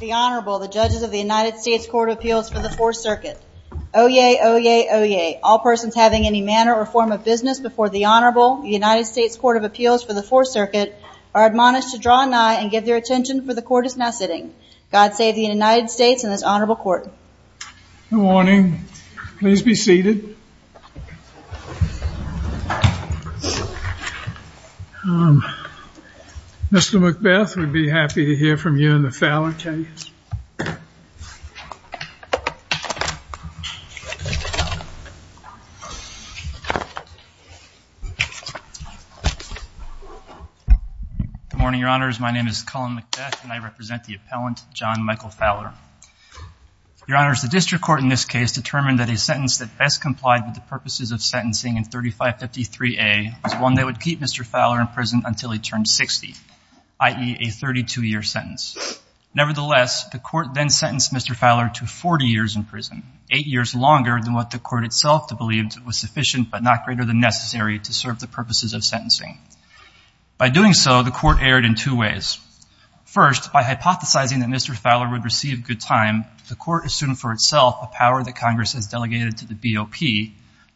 The Honorable, the judges of the United States Court of Appeals for the Fourth Circuit. Oyez, oyez, oyez. All persons having any manner or form of business before the Honorable, the United States Court of Appeals for the Fourth Circuit, are admonished to draw nigh and give their attention, for the Court is now sitting. God save the United States and this Honorable Court. Good morning. Please be seated. Mr. McBeth, we'd be happy to hear from you in the Fowler case. Good morning, Your Honors. My name is Cullen McBeth and I represent the appellant, John Michael Fowler. Your Honors, the district court in this case determined that a sentence that best complied with the purposes of sentencing in 3553A was one that would keep Mr. Fowler in prison until he turned 60, i.e., a 32-year sentence. Nevertheless, the court then sentenced Mr. Fowler to 40 years in prison, eight years longer than what the court itself believed was sufficient but not greater than necessary to serve the purposes of sentencing. By doing so, the court erred in two ways. First, by hypothesizing that Mr. Fowler would receive good time, the court assumed for itself a power that Congress has delegated to the BOP,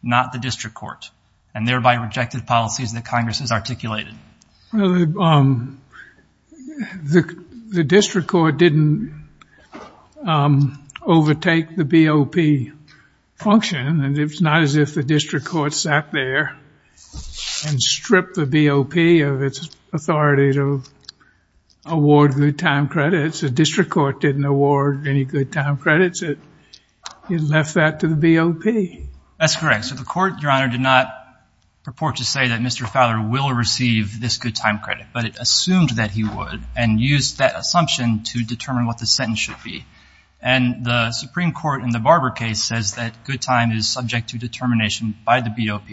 not the district court, and thereby rejected policies that Congress has articulated. Well, the district court didn't overtake the BOP function, and it's not as if the district court sat there and stripped the BOP of its authority to award good time credits. The district court didn't award any good time credits. It left that to the BOP. That's correct. So the court, Your Honor, did not purport to say that Mr. Fowler will receive this good time credit, but it assumed that he would and used that assumption to determine what the sentence should be. And the Supreme Court in the Barber case says that good time is subject to determination by the BOP,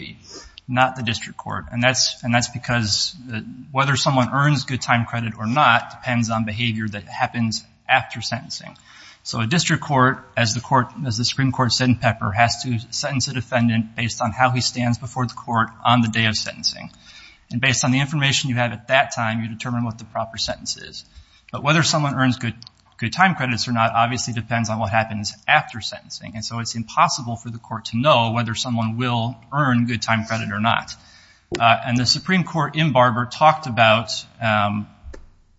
not the district court, and that's because whether someone earns good time credit or not depends on behavior that happens after sentencing. So a district court, as the Supreme Court said in Pepper, has to sentence a defendant based on how he stands before the court on the day of sentencing. And based on the information you have at that time, you determine what the proper sentence is. But whether someone earns good time credits or not obviously depends on what happens after sentencing. And so it's impossible for the court to know whether someone will earn good time credit or not. And the Supreme Court in Barber talked about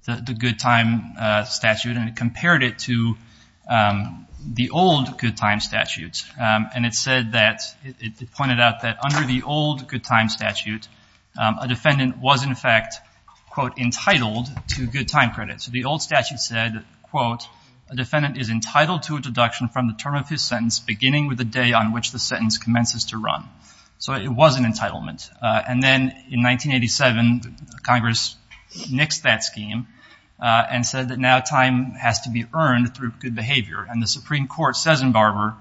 the good time statute and it compared it to the old good time statute. And it said that, it pointed out that under the old good time statute, a defendant was in fact, quote, entitled to good time credit. So the old statute said, quote, a defendant is entitled to a deduction from the term of his sentence beginning with the day on which the sentence commences to run. So it was an entitlement. And then in 1987, Congress nixed that scheme and said that now time has to be earned through good behavior. And the Supreme Court says in Barber,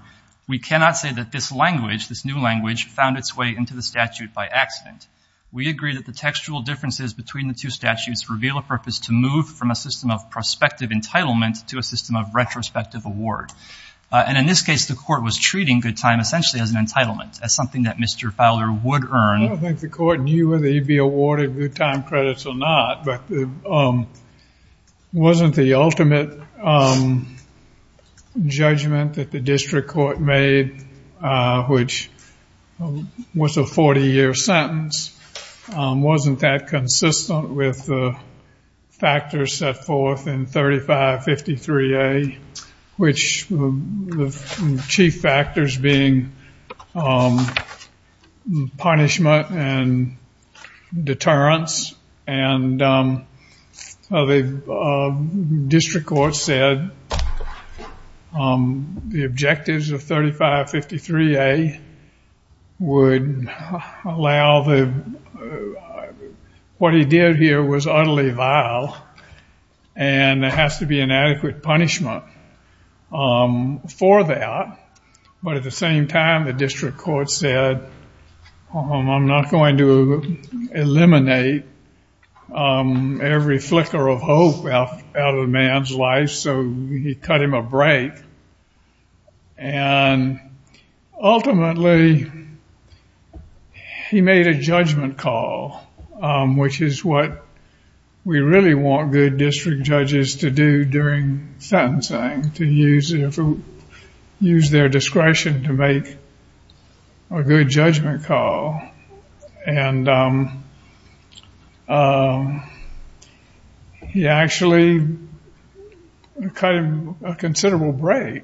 we cannot say that this language, this new language found its way into the statute by accident. We agree that the textual differences between the two statutes reveal a purpose to move from a system of prospective entitlement to a system of retrospective award. And in this case, the court was treating good time essentially as an entitlement, as something that Mr. Fowler would earn. I don't think the court knew whether he'd be awarded good time credits or not, but wasn't the ultimate judgment that the district court made, which was a 40-year sentence, wasn't that consistent with the factors set forth in 3553A, which the chief factors being punishment and deterrence. And the district court said the objectives of 3553A would allow the, what he did here was utterly vile and there has to be an adequate punishment for that. But at the same time, the district court said, I'm not going to eliminate every flicker of hope out of a man's life, so he cut him a break. And ultimately, he made a judgment call, which is what we really want good district judges to do during sentencing, to use their discretion to make a good judgment call. And he actually cut him a considerable break.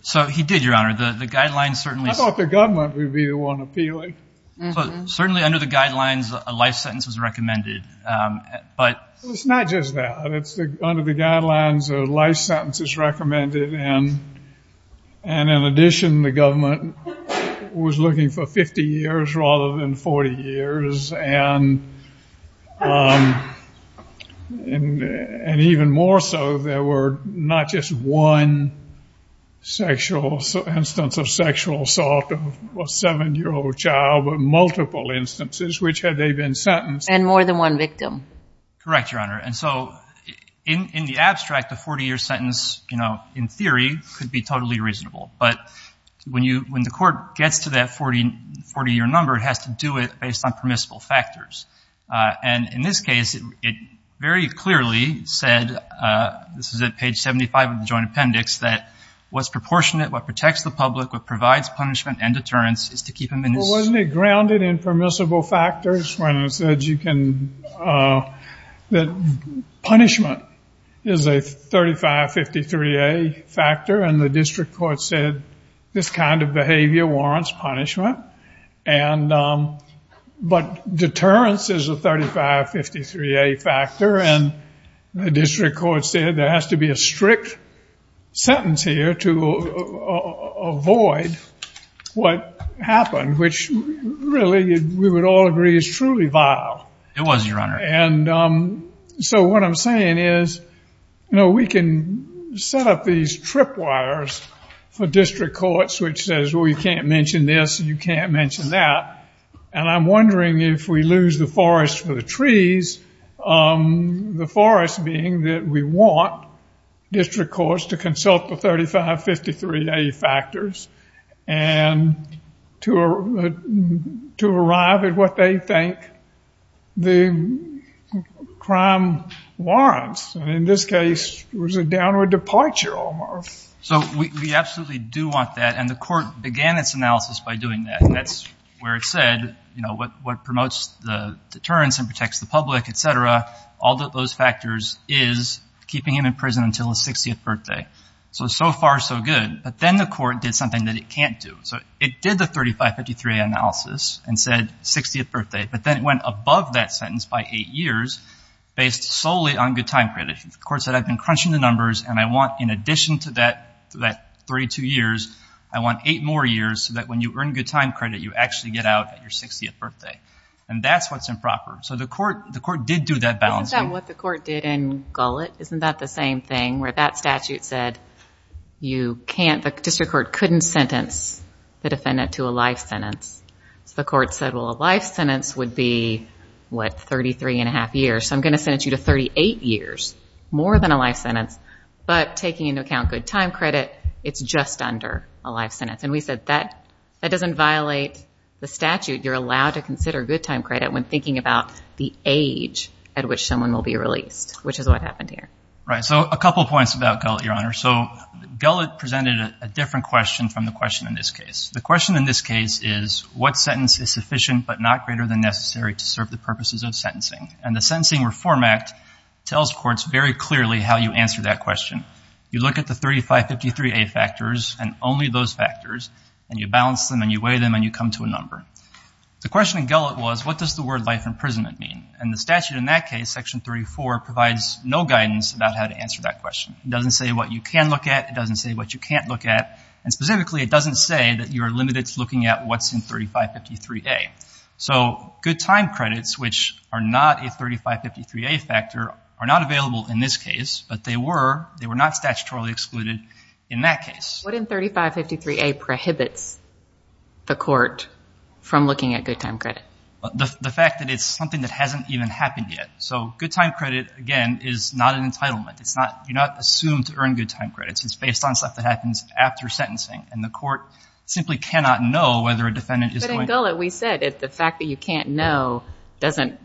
So he did, Your Honor. The guidelines certainly... I thought the government would be the one appealing. Certainly under the guidelines, a life sentence was recommended, but... It's not just that. Under the guidelines, a life sentence is recommended. And in addition, the government was looking for 50 years rather than 40 years. And even more so, there were not just one sexual, instance of sexual assault of a 7-year-old child, but multiple instances which had they been sentenced. And more than one victim. Correct, Your Honor. And so in the abstract, a 40-year sentence, in theory, could be totally reasonable. But when the court gets to that 40-year number, it has to do it based on permissible factors. And in this case, it very clearly said, this is at page 75 of the joint appendix, that what's proportionate, what protects the public, what provides punishment and deterrence is to keep him in his... Punishment is a 3553A factor, and the district court said, this kind of behavior warrants punishment. But deterrence is a 3553A factor, and the district court said, there has to be a strict sentence here to avoid what happened, which really, we would all agree, is truly vile. It was, Your Honor. And so what I'm saying is, you know, we can set up these tripwires for district courts, which says, well, you can't mention this and you can't mention that. And I'm wondering if we lose the forest for the trees, the forest being that we want district courts to consult the 3553A factors and to arrive at what they think the crime warrants. And in this case, it was a downward departure almost. So we absolutely do want that, and the court began its analysis by doing that. And that's where it said, you know, what promotes the deterrence and protects the public, et cetera, all those factors is keeping him in prison until his 60th birthday. So, so far, so good. But then the court did something that it can't do. So it did the 3553A analysis and said 60th birthday, but then it went above that sentence by eight years, based solely on good time credit. The court said, I've been crunching the numbers and I want, in addition to that 32 years, I want eight more years so that when you earn good time credit, you actually get out at your 60th birthday. And that's what's improper. So the court did do that balance. Isn't that what the court did in Gullet? Isn't that the same thing where that statute said you can't, the district court couldn't sentence the defendant to a life sentence? So the court said, well, a life sentence would be, what, 33 and a half years. So I'm going to sentence you to 38 years, more than a life sentence, but taking into account good time credit, it's just under a life sentence. And we said that doesn't violate the statute. You're allowed to consider good time credit when thinking about the age at which someone will be released, which is what happened here. Right. So a couple of points about Gullet, Your Honor. So Gullet presented a different question from the question in this case. The question in this case is, what sentence is sufficient, but not greater than necessary to serve the purposes of sentencing? And the Sentencing Reform Act tells courts very clearly how you answer that question. You look at the 3553A factors and only those factors, and you balance them and you weigh them and you come to a number. The question in Gullet was, what does the word life imprisonment mean? And the statute in that case, Section 34, provides no guidance about how to answer that question. It doesn't say what you can look at. It doesn't say what you can't look at. And specifically, it doesn't say that you're limited to looking at what's in 3553A. So good time credits, which are not a 3553A factor, are not available in this case, but they were not statutorily excluded in that case. What in 3553A prohibits the court from looking at good time credit? The fact that it's something that hasn't even happened yet. So good time credit, again, is not an entitlement. You're not assumed to earn good time credits. It's based on stuff that happens after sentencing, and the court simply cannot know whether a defendant is going to- But in Gullet, we said the fact that you can't know doesn't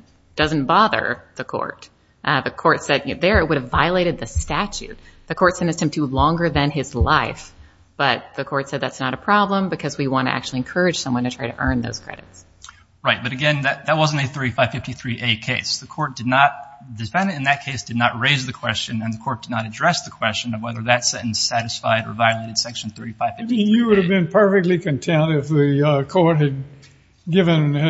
bother the court. The court said there it would have violated the statute. The court sentenced him to longer than his life, but the court said that's not a problem because we want to actually encourage someone to try to earn those credits. Right, but again, that wasn't a 3553A case. The defendant in that case did not raise the question, and the court did not address the question of whether that sentence satisfied or violated section 3553A. You would have been perfectly content if the court had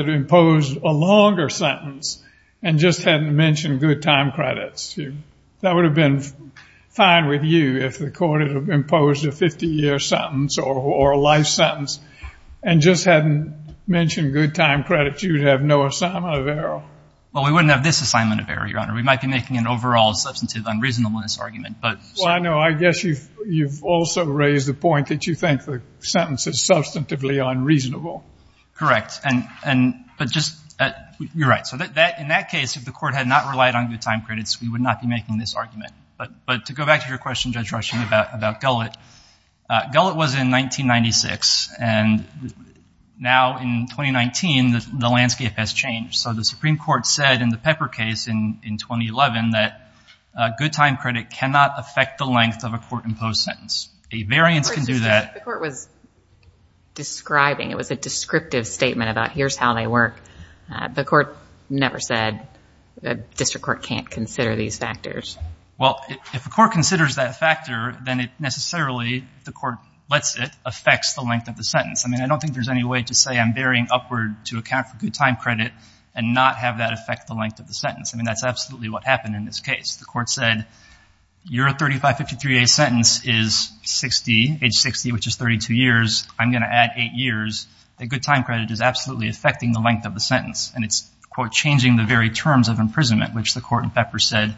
imposed a longer sentence and just hadn't mentioned good time credits. That would have been fine with you if the court had imposed a 50-year sentence or a life sentence and just hadn't mentioned good time credits. You would have no assignment of error. Well, we wouldn't have this assignment of error, Your Honor. We might be making an overall substantive unreasonableness argument, but- Well, I know. I guess you've also raised the point that you think the sentence is substantively unreasonable. Correct, but just- you're right. In that case, if the court had not relied on good time credits, we would not be making this argument. But to go back to your question, Judge Rushing, about Gullet, Gullet was in 1996, and now in 2019, the landscape has changed. So the Supreme Court said in the Pepper case in 2011 that good time credit cannot affect the length of a court-imposed sentence. A variance can do that- The court was describing. It was a descriptive statement about here's how they work. The court never said the district court can't consider these factors. Well, if the court considers that factor, then it necessarily, if the court lets it, affects the length of the sentence. I mean, I don't think there's any way to say I'm bearing upward to account for good time credit and not have that affect the length of the sentence. I mean, that's absolutely what happened in this case. The court said your 3553A sentence is 60, age 60, which is 32 years. I'm going to add eight years. The good time credit is absolutely affecting the length of the sentence, and it's, quote, changing the very terms of imprisonment, which the court in Pepper said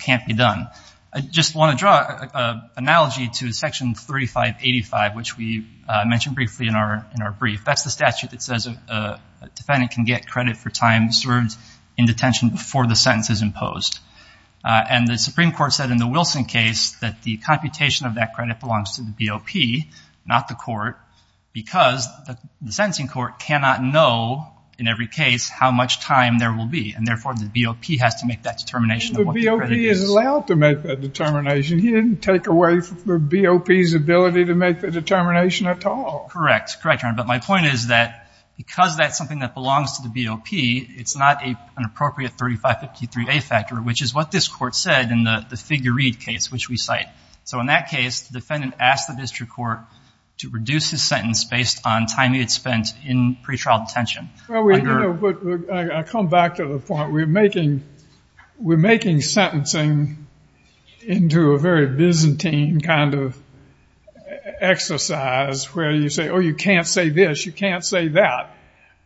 can't be done. I just want to draw an analogy to Section 3585, which we mentioned briefly in our brief. That's the statute that says a defendant can get credit for time served in detention before the sentence is imposed. And the Supreme Court said in the Wilson case that the computation of that credit belongs to the BOP, not the court, because the sentencing court cannot know in every case how much time there will be, and therefore the BOP has to make that determination of what the credit is. But the BOP is allowed to make that determination. He didn't take away the BOP's ability to make the determination at all. Correct. Correct, Your Honor. But my point is that because that's something that belongs to the BOP, it's not an appropriate 3553A factor, which is what this court said in the figure read case, which we cite. So in that case, the defendant asked the district court to reduce his sentence based on time he had spent in pretrial detention. Well, I come back to the point. We're making sentencing into a very Byzantine kind of exercise, where you say, oh, you can't say this, you can't say that.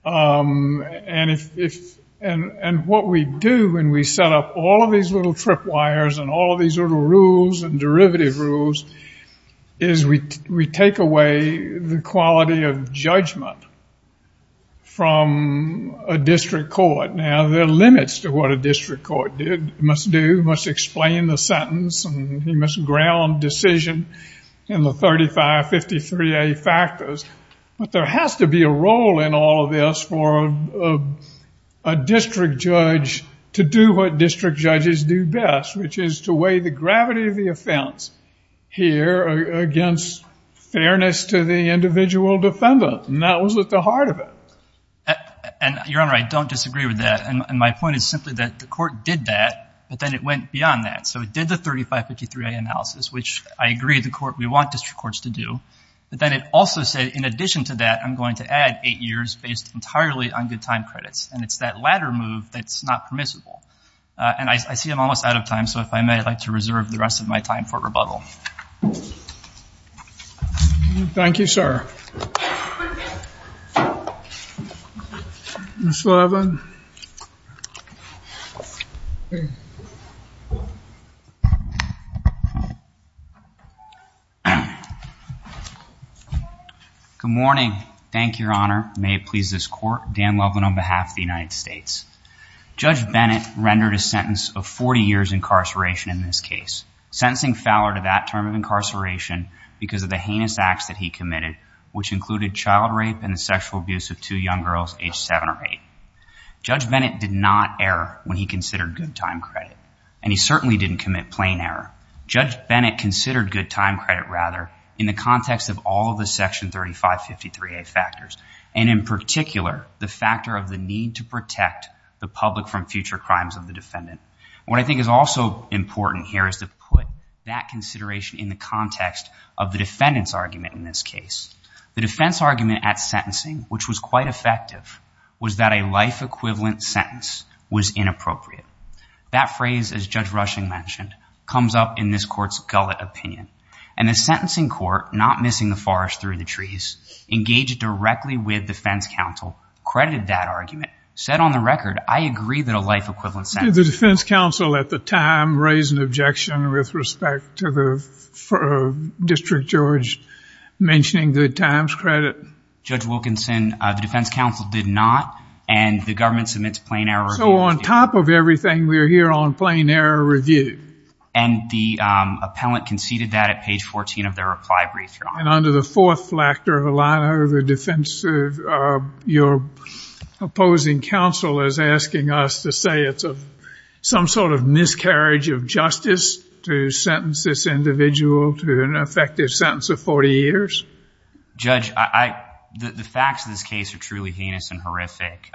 And what we do when we set up all of these little tripwires and all of these little rules and derivative rules is we take away the quality of judgment from a district court. Now, there are limits to what a district court must do, must explain the sentence, and he must ground decision in the 3553A factors. But there has to be a role in all of this for a district judge to do what district judges do best, which is to weigh the gravity of the offense here against fairness to the individual defendant. And that was at the heart of it. And, Your Honor, I don't disagree with that. And my point is simply that the court did that, but then it went beyond that. So it did the 3553A analysis, which I agree the court, we want district courts to do. But then it also said, in addition to that, I'm going to add eight years based entirely on good time credits. And it's that latter move that's not permissible. And I see I'm almost out of time, so if I may, I'd like to reserve the rest of my time for rebuttal. Thank you, sir. Ms. Levin. Good morning. Thank you, Your Honor. May it please this court. Dan Levin on behalf of the United States. Judge Bennett rendered a sentence of 40 years incarceration in this case, sentencing Fowler to that term of incarceration because of the heinous acts that he committed, which included child rape and the sexual abuse of two young girls aged 7 or 8. Judge Bennett did not err when he considered good time credit, and he certainly didn't commit plain error. Judge Bennett considered good time credit, rather, in the context of all of the Section 3553A factors, and in particular the factor of the need to protect the public from future crimes of the defendant. What I think is also important here is to put that consideration in the context of the defendant's argument in this case. The defense argument at sentencing, which was quite effective, was that a life-equivalent sentence was inappropriate. That phrase, as Judge Rushing mentioned, comes up in this court's gullet opinion. And the sentencing court, not missing the forest through the trees, engaged directly with defense counsel, credited that argument, said on the record, I agree that a life-equivalent sentence is inappropriate. Did the defense counsel at the time raise an objection with respect to the District Judge mentioning good times credit? Judge Wilkinson, the defense counsel did not, and the government submits plain error review. So on top of everything, we're here on plain error review. And the appellant conceded that at page 14 of their reply brief, Your Honor. And under the fourth factor of a line of defense, your opposing counsel is asking us to say it's some sort of miscarriage of justice to sentence this individual to an effective sentence of 40 years? Judge, the facts of this case are truly heinous and horrific.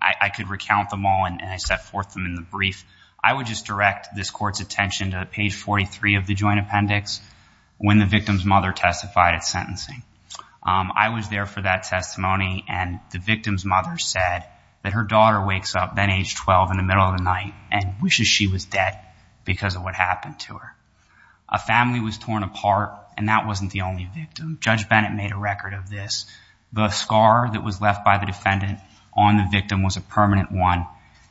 I could recount them all, and I set forth them in the brief. I would just direct this court's attention to page 43 of the joint appendix, when the victim's mother testified at sentencing. I was there for that testimony, and the victim's mother said that her daughter wakes up then age 12 in the middle of the night and wishes she was dead because of what happened to her. A family was torn apart, and that wasn't the only victim. Judge Bennett made a record of this. The scar that was left by the defendant on the victim was a permanent one,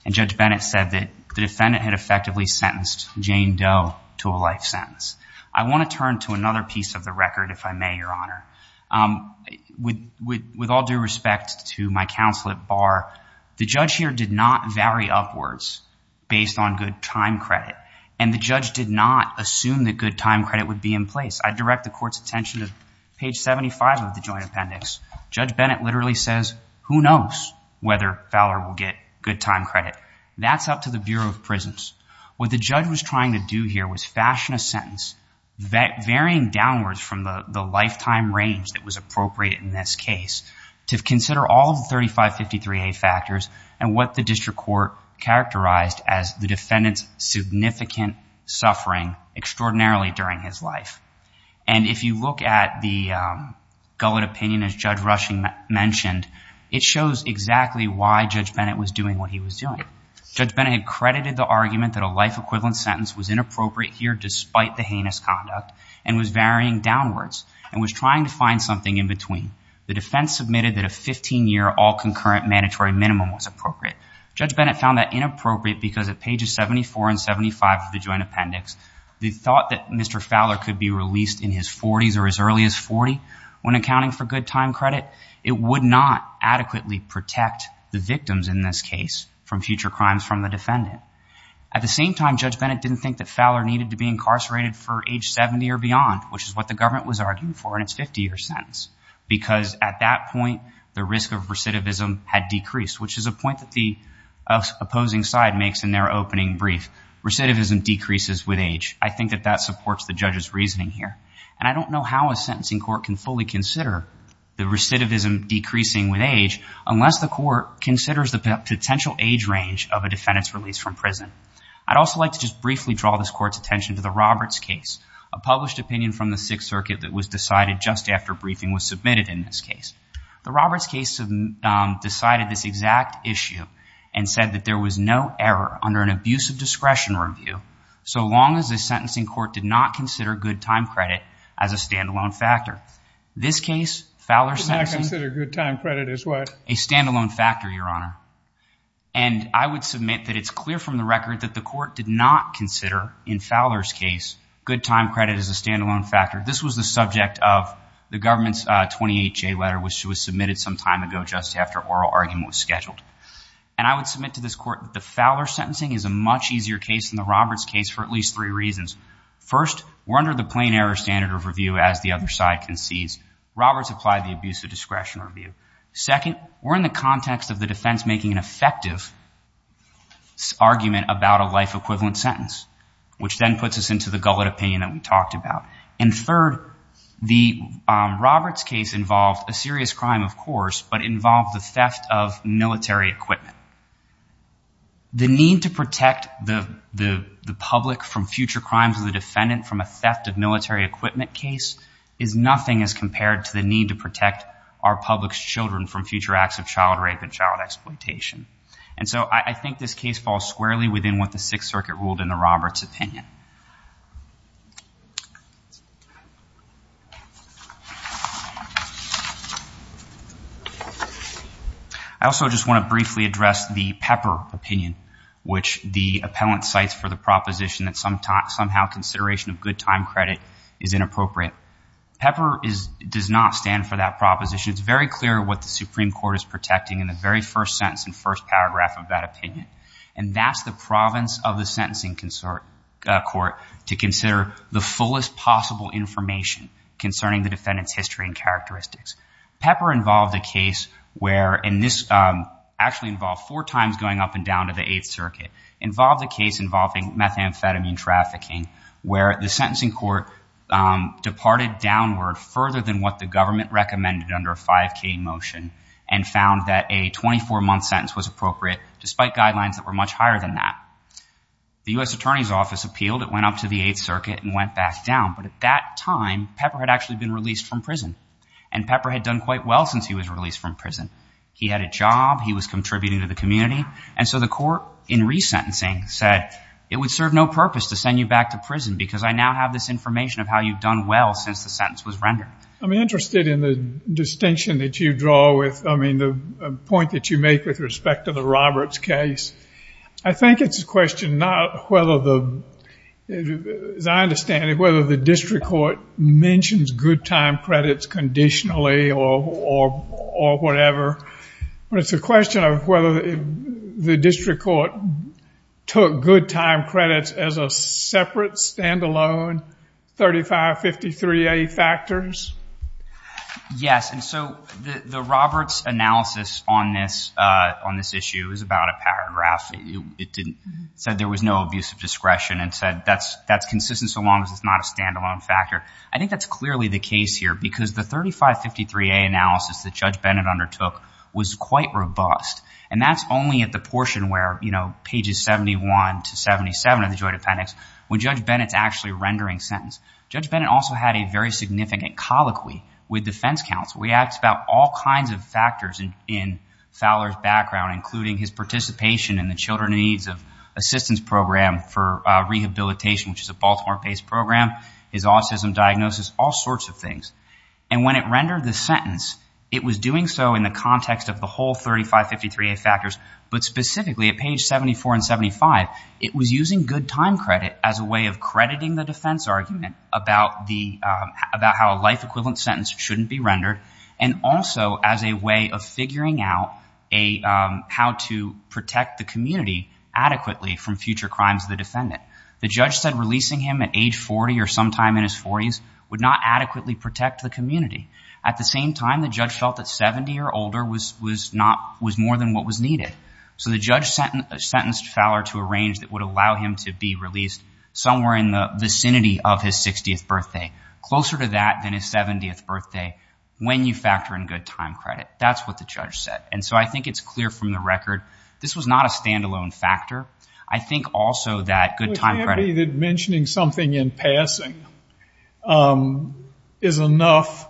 and Judge Bennett said that the defendant had effectively sentenced Jane Doe to a life sentence. I want to turn to another piece of the record, if I may, Your Honor. With all due respect to my counsel at bar, the judge here did not vary upwards based on good time credit, and the judge did not assume that good time credit would be in place. I direct the court's attention to page 75 of the joint appendix. Judge Bennett literally says, who knows whether Fowler will get good time credit. That's up to the Bureau of Prisons. What the judge was trying to do here was fashion a sentence varying downwards from the lifetime range that was appropriate in this case to consider all of the 3553A factors and what the district court characterized as the defendant's significant suffering extraordinarily during his life. And if you look at the gullet opinion, as Judge Rushing mentioned, it shows exactly why Judge Bennett was doing what he was doing. Judge Bennett credited the argument that a life equivalent sentence was inappropriate here despite the heinous conduct and was varying downwards and was trying to find something in between. The defense submitted that a 15-year all-concurrent mandatory minimum was appropriate. Judge Bennett found that inappropriate because at pages 74 and 75 of the joint appendix, the thought that Mr. Fowler could be released in his 40s or as early as 40 when accounting for good time credit, it would not adequately protect the victims in this case from future crimes from the defendant. At the same time, Judge Bennett didn't think that Fowler needed to be incarcerated for age 70 or beyond, which is what the government was arguing for in its 50-year sentence because at that point the risk of recidivism had decreased, which is a point that the opposing side makes in their opening brief. Recidivism decreases with age. I think that that supports the judge's reasoning here. And I don't know how a sentencing court can fully consider the recidivism decreasing with age unless the court considers the potential age range of a defendant's release from prison. I'd also like to just briefly draw this court's attention to the Roberts case, a published opinion from the Sixth Circuit that was decided just after briefing was submitted in this case. The Roberts case decided this exact issue and said that there was no error under an abusive discretion review so long as the sentencing court did not consider good time credit as a stand-alone factor. This case, Fowler's sentencing— Did not consider good time credit as what? A stand-alone factor, Your Honor. And I would submit that it's clear from the record that the court did not consider, in Fowler's case, good time credit as a stand-alone factor. This was the subject of the government's 28-J letter, which was submitted some time ago just after oral argument was scheduled. And I would submit to this court that the Fowler sentencing is a much easier case than the Roberts case for at least three reasons. First, we're under the plain error standard of review, as the other side concedes. Roberts applied the abusive discretion review. Second, we're in the context of the defense making an effective argument about a life-equivalent sentence, which then puts us into the gullet opinion that we talked about. And third, the Roberts case involved a serious crime, of course, but involved the theft of military equipment. The need to protect the public from future crimes of the defendant from a theft of military equipment case is nothing as compared to the need to protect our public's children from future acts of child rape and child exploitation. And so I think this case falls squarely within what the Sixth Circuit ruled in the Roberts opinion. I also just want to briefly address the Pepper opinion, which the appellant cites for the proposition that somehow consideration of good time credit is inappropriate. Pepper does not stand for that proposition. It's very clear what the Supreme Court is protecting in the very first sentence and first paragraph of that opinion. And that's the province of the sentencing court to consider the fullest possible information concerning the defendant's history and characteristics. Pepper involved a case where, and this actually involved four times going up and down to the Eighth Circuit, involved a case involving methamphetamine trafficking, where the sentencing court departed downward further than what the government recommended under a 5K motion and found that a 24-month sentence was appropriate, despite guidelines that were much higher than that. The U.S. Attorney's Office appealed. It went up to the Eighth Circuit and went back down. But at that time, Pepper had actually been released from prison. And Pepper had done quite well since he was released from prison. He had a job. He was contributing to the community. And so the court, in resentencing, said it would serve no purpose to send you back to prison because I now have this information of how you've done well since the sentence was rendered. I'm interested in the distinction that you draw with, I mean, the point that you make with respect to the Roberts case. I think it's a question not whether the, as I understand it, whether the district court mentions good time credits conditionally or whatever. But it's a question of whether the district court took good time credits as a separate, stand-alone 3553A factors. Yes. And so the Roberts analysis on this issue is about a paragraph. It said there was no abuse of discretion and said that's consistent so long as it's not a stand-alone factor. I think that's clearly the case here because the 3553A analysis that Judge Bennett undertook was quite robust. And that's only at the portion where, you know, pages 71 to 77 of the joint appendix, when Judge Bennett's actually rendering sentence. Judge Bennett also had a very significant colloquy with defense counsel. He asked about all kinds of factors in Fowler's background, including his participation in the Children in Need Assistance Program for rehabilitation, which is a Baltimore-based program. His autism diagnosis, all sorts of things. And when it rendered the sentence, it was doing so in the context of the whole 3553A factors, but specifically at page 74 and 75, it was using good time credit as a way of crediting the defense argument about how a life equivalent sentence shouldn't be rendered and also as a way of figuring out how to protect the community adequately from future crimes of the defendant. The judge said releasing him at age 40 or sometime in his 40s would not adequately protect the community. At the same time, the judge felt that 70 or older was more than what was needed. So the judge sentenced Fowler to a range that would allow him to be released somewhere in the vicinity of his 60th birthday, closer to that than his 70th birthday, when you factor in good time credit. That's what the judge said. And so I think it's clear from the record this was not a stand-alone factor. I think also that good time credit... But can't it be that mentioning something in passing is enough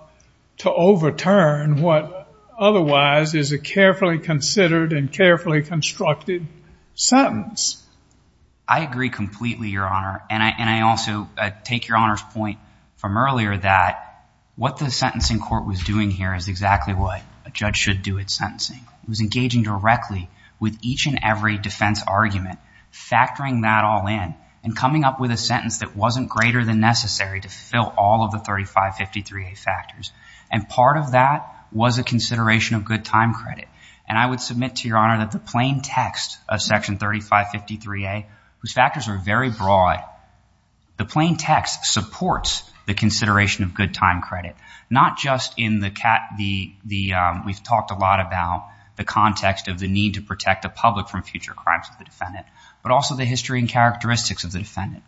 to overturn what otherwise is a carefully considered and carefully constructed sentence? I agree completely, Your Honor. And I also take Your Honor's point from earlier that what the sentencing court was doing here is exactly what a judge should do at sentencing. It was engaging directly with each and every defense argument, factoring that all in, and coming up with a sentence that wasn't greater than necessary to fill all of the 3553A factors. And part of that was a consideration of good time credit. And I would submit to Your Honor that the plain text of Section 3553A, whose factors are very broad, the plain text supports the consideration of good time credit, not just in the... We've talked a lot about the context of the need to protect the public from future crimes of the defendant, but also the history and characteristics of the defendant,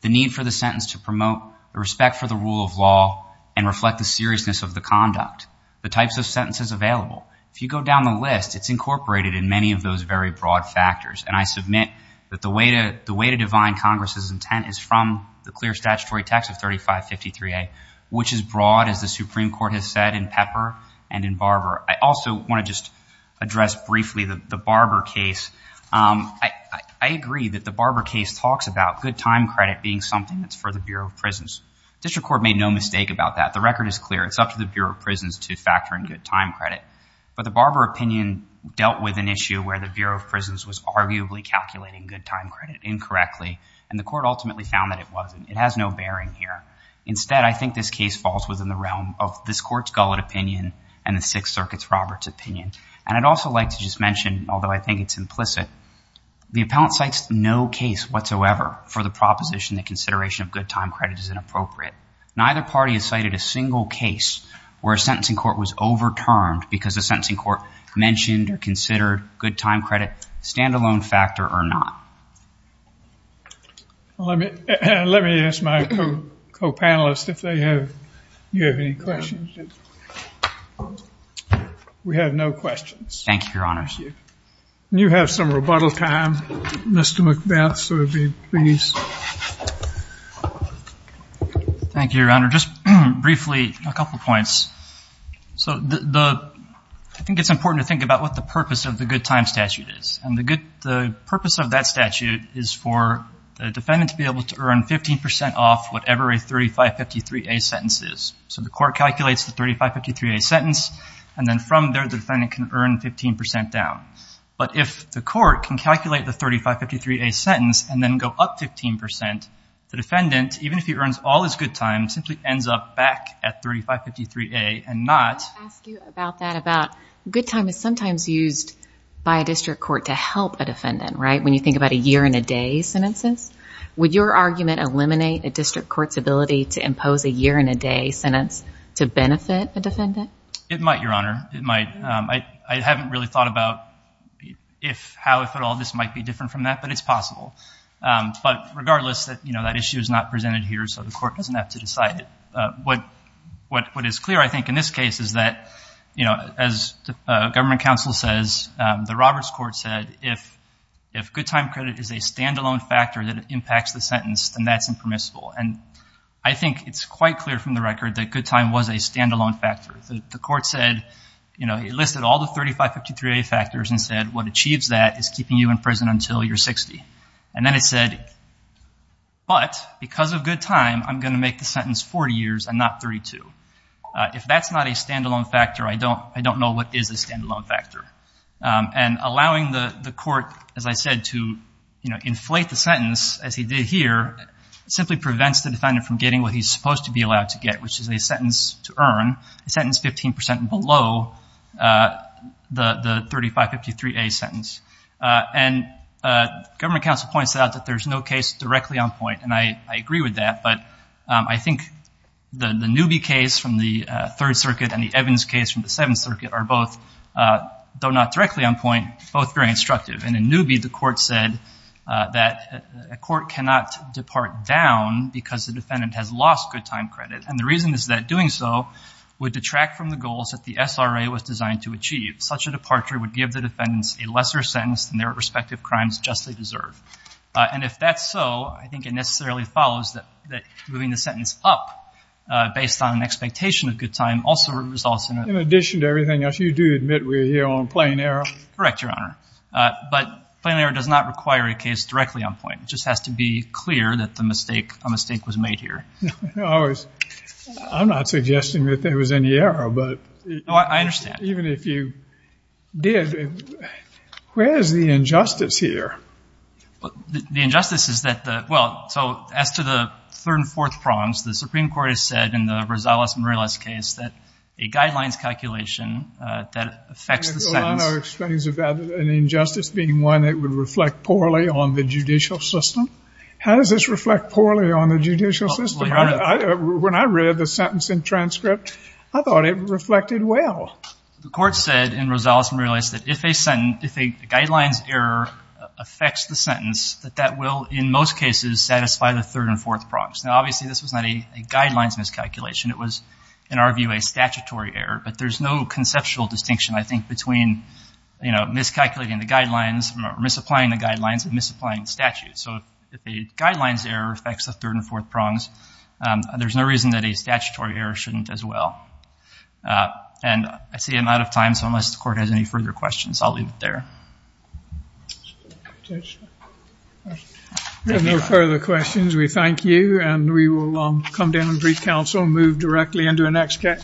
the need for the sentence to promote the respect for the rule of law and reflect the seriousness of the conduct, the types of sentences available. If you go down the list, it's incorporated in many of those very broad factors. And I submit that the way to divine Congress's intent is from the clear statutory text of 3553A, which is broad, as the Supreme Court has said, in Pepper and in Barber. I also want to just address briefly the Barber case. I agree that the Barber case talks about good time credit being something that's for the Bureau of Prisons. District Court made no mistake about that. The record is clear. It's up to the Bureau of Prisons to factor in good time credit. But the Barber opinion dealt with an issue where the Bureau of Prisons was arguably calculating good time credit incorrectly, and the court ultimately found that it wasn't. It has no bearing here. Instead, I think this case falls within the realm of this court's Gullett opinion and the Sixth Circuit's Roberts opinion. And I'd also like to just mention, although I think it's implicit, the appellant cites no case whatsoever for the proposition that consideration of good time credit is inappropriate. Neither party has cited a single case where a sentencing court was overturned because the sentencing court mentioned or considered good time credit, stand-alone factor or not. Let me ask my co-panelists if you have any questions. We have no questions. Thank you, Your Honor. You have some rebuttal time. Mr. McBeth, please. Thank you, Your Honor. Just briefly, a couple points. So I think it's important to think about what the purpose of the good time statute is. And the purpose of that statute is for the defendant to be able to earn 15% off whatever a 3553A sentence is. So the court calculates the 3553A sentence, and then from there the defendant can earn 15% down. But if the court can calculate the 3553A sentence and then go up 15%, the defendant, even if he earns all his good time, simply ends up back at 3553A and not— Good time is sometimes used by a district court to help a defendant, right, when you think about a year-and-a-day sentences. Would your argument eliminate a district court's ability to impose a year-and-a-day sentence to benefit a defendant? It might, Your Honor. It might. I haven't really thought about how, if at all, this might be different from that, but it's possible. But regardless, that issue is not presented here, so the court doesn't have to decide it. What is clear, I think, in this case is that, you know, as the government counsel says, the Roberts court said if good time credit is a stand-alone factor that impacts the sentence, then that's impermissible. And I think it's quite clear from the record that good time was a stand-alone factor. The court said, you know, it listed all the 3553A factors and said what achieves that is keeping you in prison until you're 60. And then it said, but because of good time, I'm going to make the sentence 40 years and not 32. If that's not a stand-alone factor, I don't know what is a stand-alone factor. And allowing the court, as I said, to, you know, inflate the sentence, as he did here, simply prevents the defendant from getting what he's supposed to be allowed to get, which is a sentence to earn, a sentence 15 percent below the 3553A sentence. And government counsel points out that there's no case directly on point, and I agree with that. But I think the Newby case from the Third Circuit and the Evans case from the Seventh Circuit are both, though not directly on point, both very instructive. And in Newby, the court said that a court cannot depart down because the defendant has lost good time credit. And the reason is that doing so would detract from the goals that the SRA was designed to achieve. Such a departure would give the defendants a lesser sentence than their respective crimes justly deserve. And if that's so, I think it necessarily follows that moving the sentence up, based on an expectation of good time, also results in a- In addition to everything else, you do admit we're here on plain error? Correct, Your Honor. But plain error does not require a case directly on point. It just has to be clear that a mistake was made here. I'm not suggesting that there was any error, but- No, I understand. Even if you did, where is the injustice here? The injustice is that the- well, so as to the third and fourth prongs, the Supreme Court has said in the Rosales-Morales case that a guidelines calculation that affects the sentence- Your Honor explains about an injustice being one that would reflect poorly on the judicial system. How does this reflect poorly on the judicial system? Well, Your Honor- When I read the sentence in transcript, I thought it reflected well. The court said in Rosales-Morales that if a sentence- if a guidelines error affects the sentence, that that will, in most cases, satisfy the third and fourth prongs. Now, obviously, this was not a guidelines miscalculation. It was, in our view, a statutory error. But there's no conceptual distinction, I think, between, you know, miscalculating the guidelines, misapplying the guidelines, and misapplying the statute. So if a guidelines error affects the third and fourth prongs, there's no reason that a statutory error shouldn't as well. And I see I'm out of time, so unless the court has any further questions, I'll leave it there. If there are no further questions, we thank you, and we will come down and brief counsel and move directly into our next case.